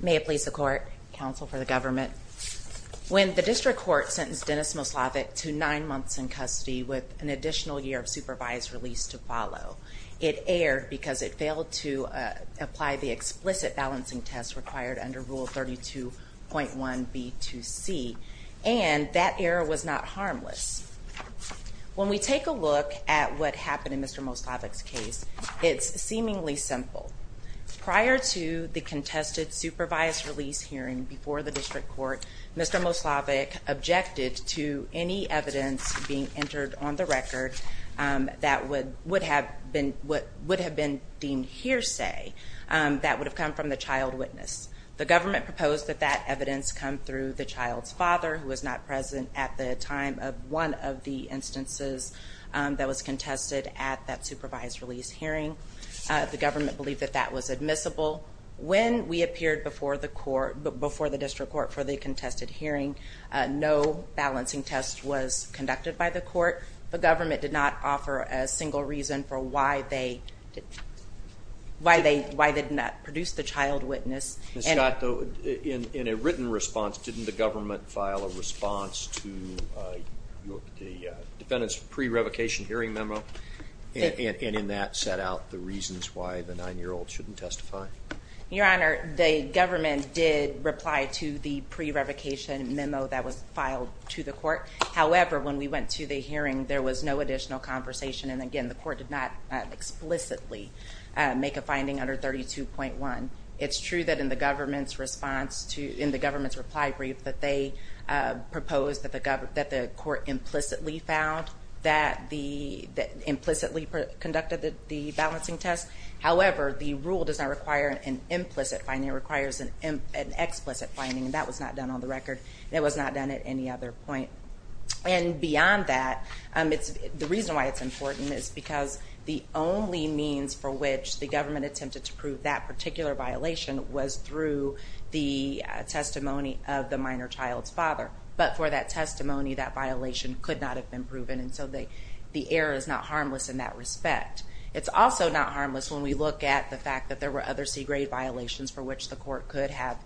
May it please the court, counsel for the government. When the district court sentenced Dennis Moslavac to nine months in custody with an additional year of supervised release to follow, it erred because it failed to apply the explicit balancing test required under Rule 32.1b2c and that error was not harmless. When we take a look at what happened in Mr. Moslavac's case, it's contested supervised release hearing before the district court, Mr. Moslavac objected to any evidence being entered on the record that would have been deemed hearsay that would have come from the child witness. The government proposed that that evidence come through the child's father who was not present at the time of one of the instances that was contested at that supervised release hearing. The government believed that was admissible. When we appeared before the district court for the contested hearing, no balancing test was conducted by the court. The government did not offer a single reason for why they did not produce the child witness. Ms. Scott, in a written response, didn't the government file a response to the defendant's pre-revocation hearing memo and in that set out the nine-year-old shouldn't testify? Your Honor, the government did reply to the pre-revocation memo that was filed to the court. However, when we went to the hearing there was no additional conversation and again the court did not explicitly make a finding under 32.1. It's true that in the government's response to in the government's reply brief that they proposed that the court implicitly found that the implicitly conducted the balancing test. However, the rule does not require an implicit finding. It requires an explicit finding and that was not done on the record. It was not done at any other point. And beyond that, the reason why it's important is because the only means for which the government attempted to prove that particular violation was through the testimony of the minor child's father. But for that testimony, that violation could not have been proven and so the error is not harmless when we look at the fact that there were other C-grade violations for which the court could have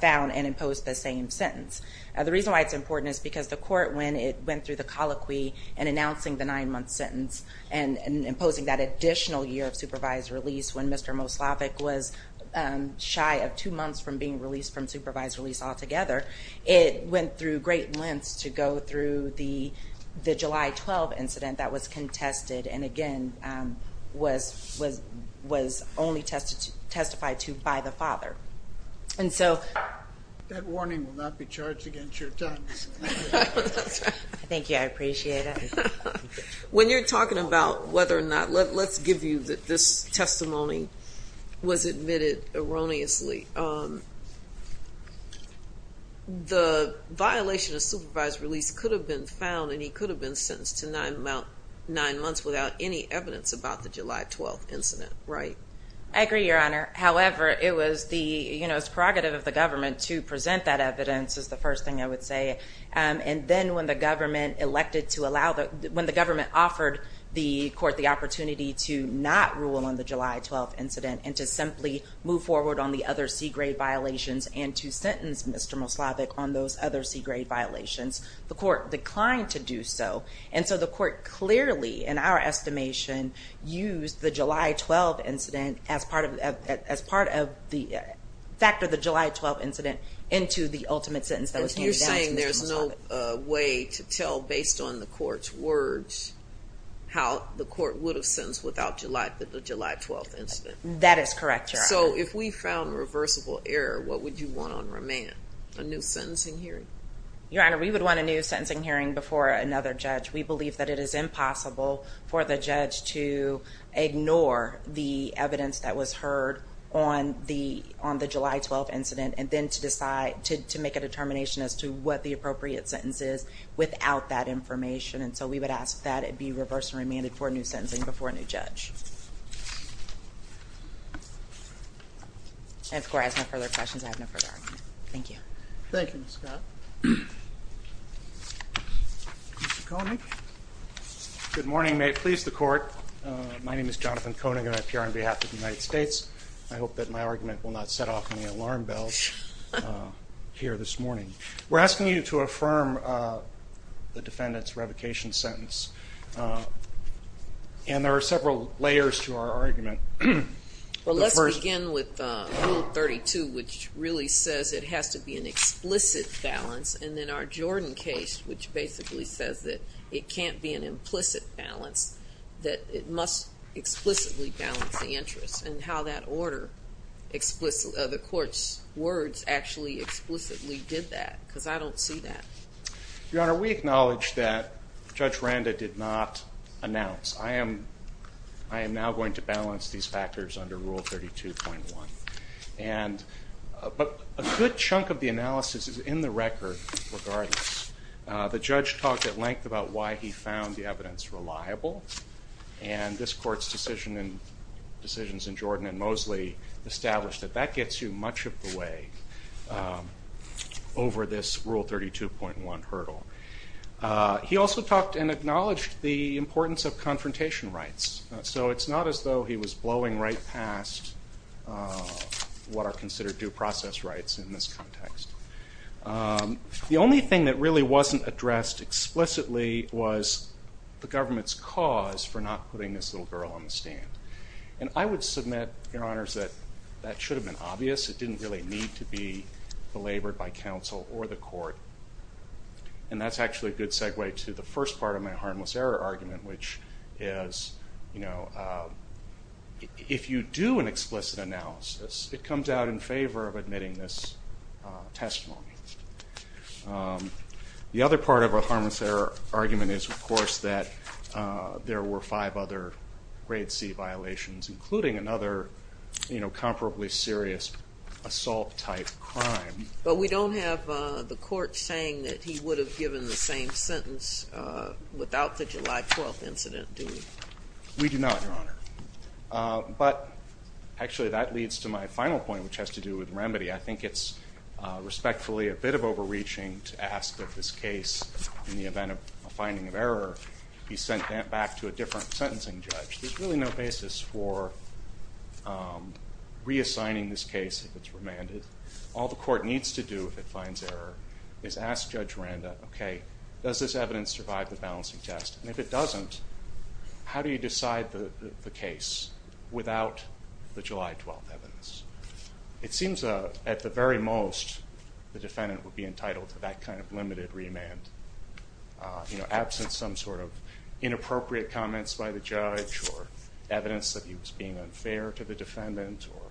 found and imposed the same sentence. The reason why it's important is because the court, when it went through the colloquy and announcing the nine-month sentence and imposing that additional year of supervised release when Mr. Moslavik was shy of two months from being released from supervised release altogether, it went through great lengths to go through the July 12 incident that was contested and again was only testified to by the father. And so... That warning will not be charged against your son. Thank you, I appreciate it. When you're talking about whether or not, let's give you that this testimony was admitted erroneously. The violation of supervised release could have been found and he could have been sentenced to nine months without any evidence about the July 12 incident, right? I agree, Your Honor. However, it was the, you know, it's prerogative of the government to present that evidence is the first thing I would say. And then when the government elected to allow that, when the government offered the court the opportunity to not rule on the July 12 incident and to simply move forward on the other C-grade violations and to sentence Mr. Moslavik on those other C-grade violations, the court declined to do so. And so the court clearly, in our estimation, used the July 12 incident as part of the fact of the July 12 incident into the ultimate sentence that was handed down to Mr. Moslavik. You're saying there's no way to tell based on the court's words how the court would have sentenced without the July 12 incident. That is correct, Your Honor. So if we found reversible error, what would you want on remand? A new sentencing hearing? Your Honor, we would want a new sentencing hearing before another judge. We believe that it is impossible for the judge to ignore the evidence that was heard on the July 12 incident and then to decide, to make a determination as to what the appropriate sentence is without that information. And so we would ask that it be reversed and remanded for a new sentencing before a judge. And of course, I have no further questions. I have no further argument. Thank you. Thank you, Ms. Scott. Mr. Koenig. Good morning. May it please the Court. My name is Jonathan Koenig and I appear on behalf of the United States. I hope that my argument will not set off any alarm bells here this morning. We're asking you to affirm the defendant's revocation sentence. And there are several layers to our argument. Well, let's begin with Rule 32, which really says it has to be an explicit balance. And then our Jordan case, which basically says that it can't be an implicit balance, that it must explicitly balance the interest and how that order, the court's words, actually explicitly did that. Because I don't see that. Your Honor, we acknowledge that Judge Randa did not announce. I am, I am now going to balance these factors under Rule 32.1. And, but a good chunk of the analysis is in the record, regardless. The judge talked at length about why he found the evidence reliable. And this Court's decision in, decisions in Jordan and Mosley established that that gets you much of the way over this Rule 32.1. hurdle. He also talked and acknowledged the importance of confrontation rights. So it's not as though he was blowing right past what are considered due process rights in this context. The only thing that really wasn't addressed explicitly was the government's cause for not putting this little girl on the stand. And I would submit, Your Honors, that that should have been obvious. It didn't really need to be belabored by counsel or the Court. And that's actually a good segue to the first part of my harmless error argument, which is, you know, if you do an explicit analysis, it comes out in favor of admitting this testimony. The other part of our harmless error argument is, of course, that there were five other Grade C violations, including another, you know, comparably serious assault-type crime. But we don't have the Court saying that he would have given the same sentence without the July 12 incident, do we? We do not, Your Honor. But actually, that leads to my final point, which has to do with remedy. I think it's respectfully a bit of overreaching to ask that this case, in the event of a finding of error, be sent back to a different sentencing judge. There's really no basis for reassigning this case if it's remanded. All the Court needs to do if it finds error is ask Judge Miranda, okay, does this evidence survive the balancing test? And if it doesn't, how do you decide the case without the July 12 evidence? It seems, at the very most, the defendant would be entitled to that kind of limited remand, you know, absent some sort of inappropriate comments by the judge or evidence that he was being unfair to the defendant or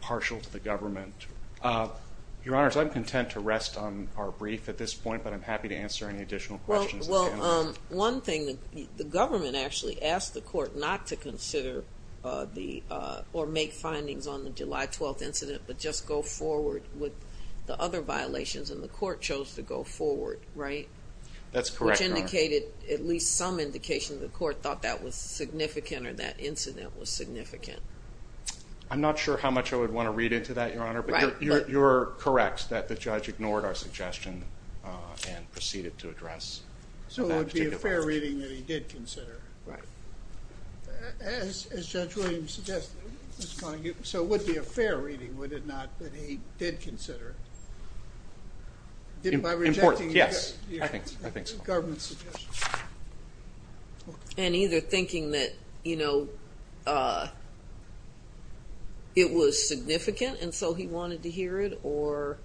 partial to the government. Your Honors, I'm content to rest on our brief at this point, but I'm happy to answer any additional questions. Well, one thing, the government actually asked the Court not to consider or make findings on the July 12 incident, but just go forward with the other violations, and the Court chose to go forward, right? That's correct, Your Honor. Which indicated, at least some indication, the Court thought that was significant or that incident was significant. I'm not sure how much I would want to read into that, Your Honor. Right. But you're correct that the judge ignored our suggestion and proceeded to address that particular violation. So it would be a fair reading that he did consider. Right. As Judge Williams suggested, so it would be a fair reading, would it not, that he did consider it? Important, yes, I think so. Government's suggestion. And either thinking that, you know, it was significant and so he wanted to hear it, or,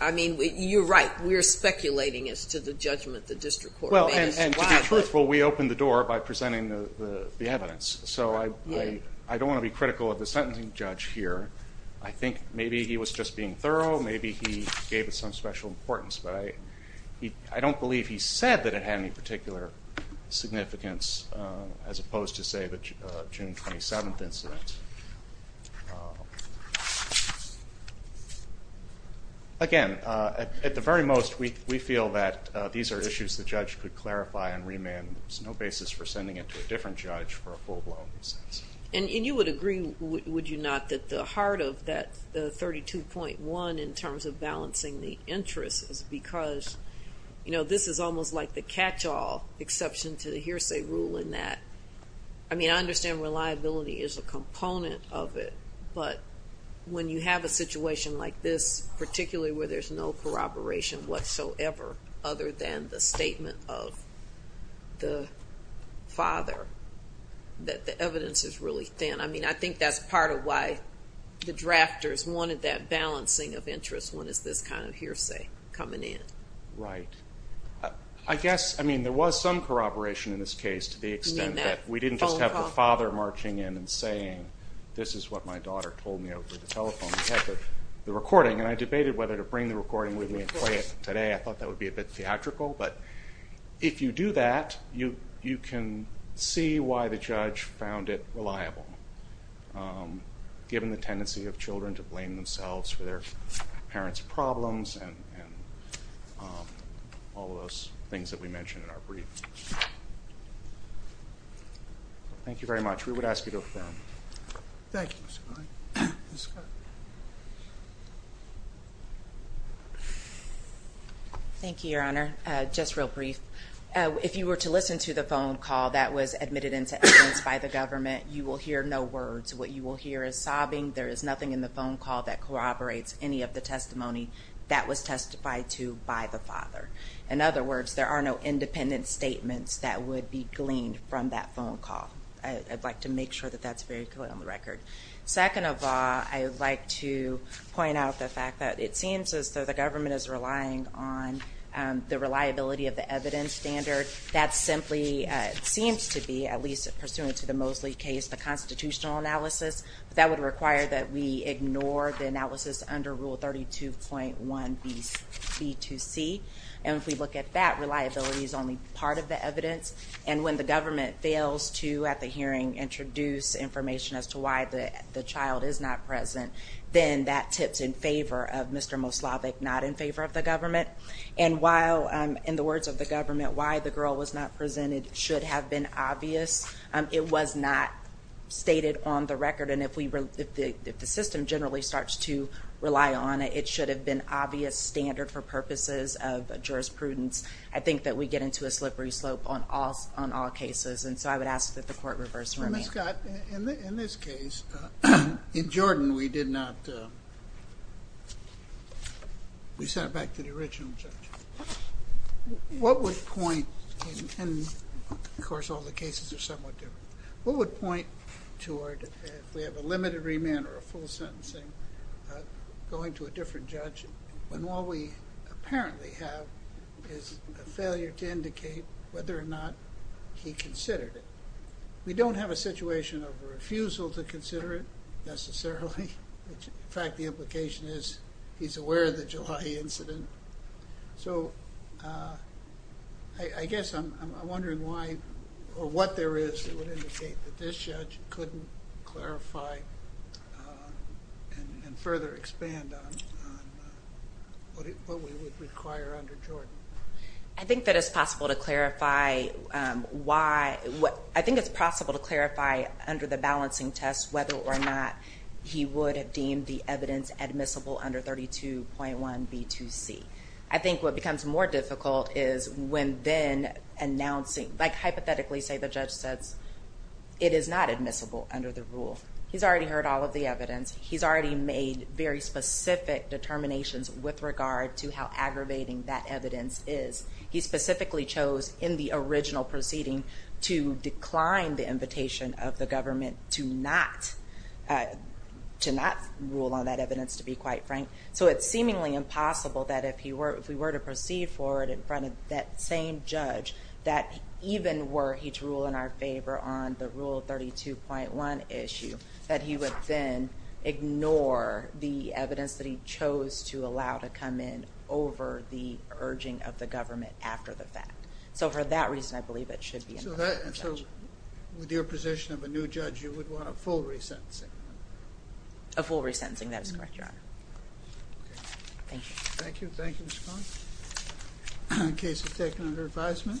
I mean, you're right, we're speculating as to the judgment the District Court made. Well, and to be truthful, we opened the door by presenting the evidence, so I don't want to be critical of the sentencing judge here. I think maybe he was just being thorough, maybe he gave it some special importance, but I don't believe he said that it had any particular significance, as opposed to, say, the June 27th incident. Again, at the very most, we feel that these are issues the judge could clarify and remand. There's no basis for sending it to a different judge for a full blown sentence. And you would agree, would you not, that the heart of that 32.1 in terms of balancing the interests is because, you know, this is almost like the catch-all exception to the hearsay rule in that, I mean, I understand reliability is a component of it, but when you have a situation like this, particularly where there's no corroboration whatsoever other than the statement of the father, that the evidence is really thin, I mean, I think that's part of why the drafters wanted that balancing of interests when it's this kind of hearsay coming in. Right. I guess, I mean, there was some corroboration in this case to the extent that we didn't just have the father marching in and saying, this is what my daughter told me over the telephone. We had the recording, and I debated whether to bring the recording with me and play it today. I thought that would be a bit theatrical, but if you do that, you can see why the judge found it reliable, given the tendency of children to blame themselves for their parents' problems and all of those things that we mentioned in our brief. Thank you very much. We would ask you to affirm. Thank you. Thank you, Your Honor. Just real brief. If you were to listen to the phone call that was admitted into evidence by the government, you will hear no words. What you will hear is sobbing. There is nothing in the phone call that corroborates any of the testimony that was testified to by the father. In other words, there are no independent statements that would be gleaned from that phone call. I'd like to make sure that that's very clear on the record. Second of all, I would like to point out the fact that it seems as though the government is relying on the reliability of the evidence standard. That simply seems to be, at least pursuant to the Mosley case, the constitutional analysis. That would require that we ignore the analysis under Rule 32.1b2c. And if we look at that, reliability is only part of the evidence. And when the government fails to, at the hearing, introduce information as to why the child is not present, then that tips in favor of Mr. Moslavik, not in favor of the government. And while, in the words of the government, why the girl was not presented should have been obvious, it was not stated on the record. And if the system generally starts to rely on it, it should have been obvious, standard for purposes of jurisprudence. I think that we get into a slippery slope on all cases. And so I would ask that the court reverse remand. Ms. Scott, in this case, in Jordan we did not, we sent it back to the original judge. What would point, and of course all the cases are somewhat different, what would point toward if we have a limited remand or a full sentencing, going to a different judge when all we apparently have is a failure to indicate whether or not he considered it. We don't have a situation of refusal to consider it necessarily. In fact, the implication is he's aware of the July incident. So I guess I'm wondering why or what there is that would indicate that this judge couldn't clarify and further expand on what we would require under Jordan. I think that it's possible to clarify why, I think it's possible to clarify under the balancing test whether or not he would have deemed the evidence admissible under 32.1B2C. I think what becomes more difficult is when then announcing, like hypothetically say the judge says it is not admissible under the rule. He's already heard all of the evidence. He's already made very specific determinations with regard to how aggravating that evidence is. He specifically chose in the original proceeding to decline the invitation of the government to not rule on that evidence to be quite frank. So it's seemingly impossible that if we were to proceed forward in front of that same judge that even were he to rule in our favor on the rule of 32.1 issue that he would then ignore the evidence that he chose to allow to come in over the urging of the government after the fact. So for that reason, I believe it should be an affirmative judgment. So with your position of a new judge, you would want a full resentencing? A full resentencing, that is correct, Your Honor. Okay. Thank you. Thank you. Thank you, Ms. Collins. The case is taken under advisement.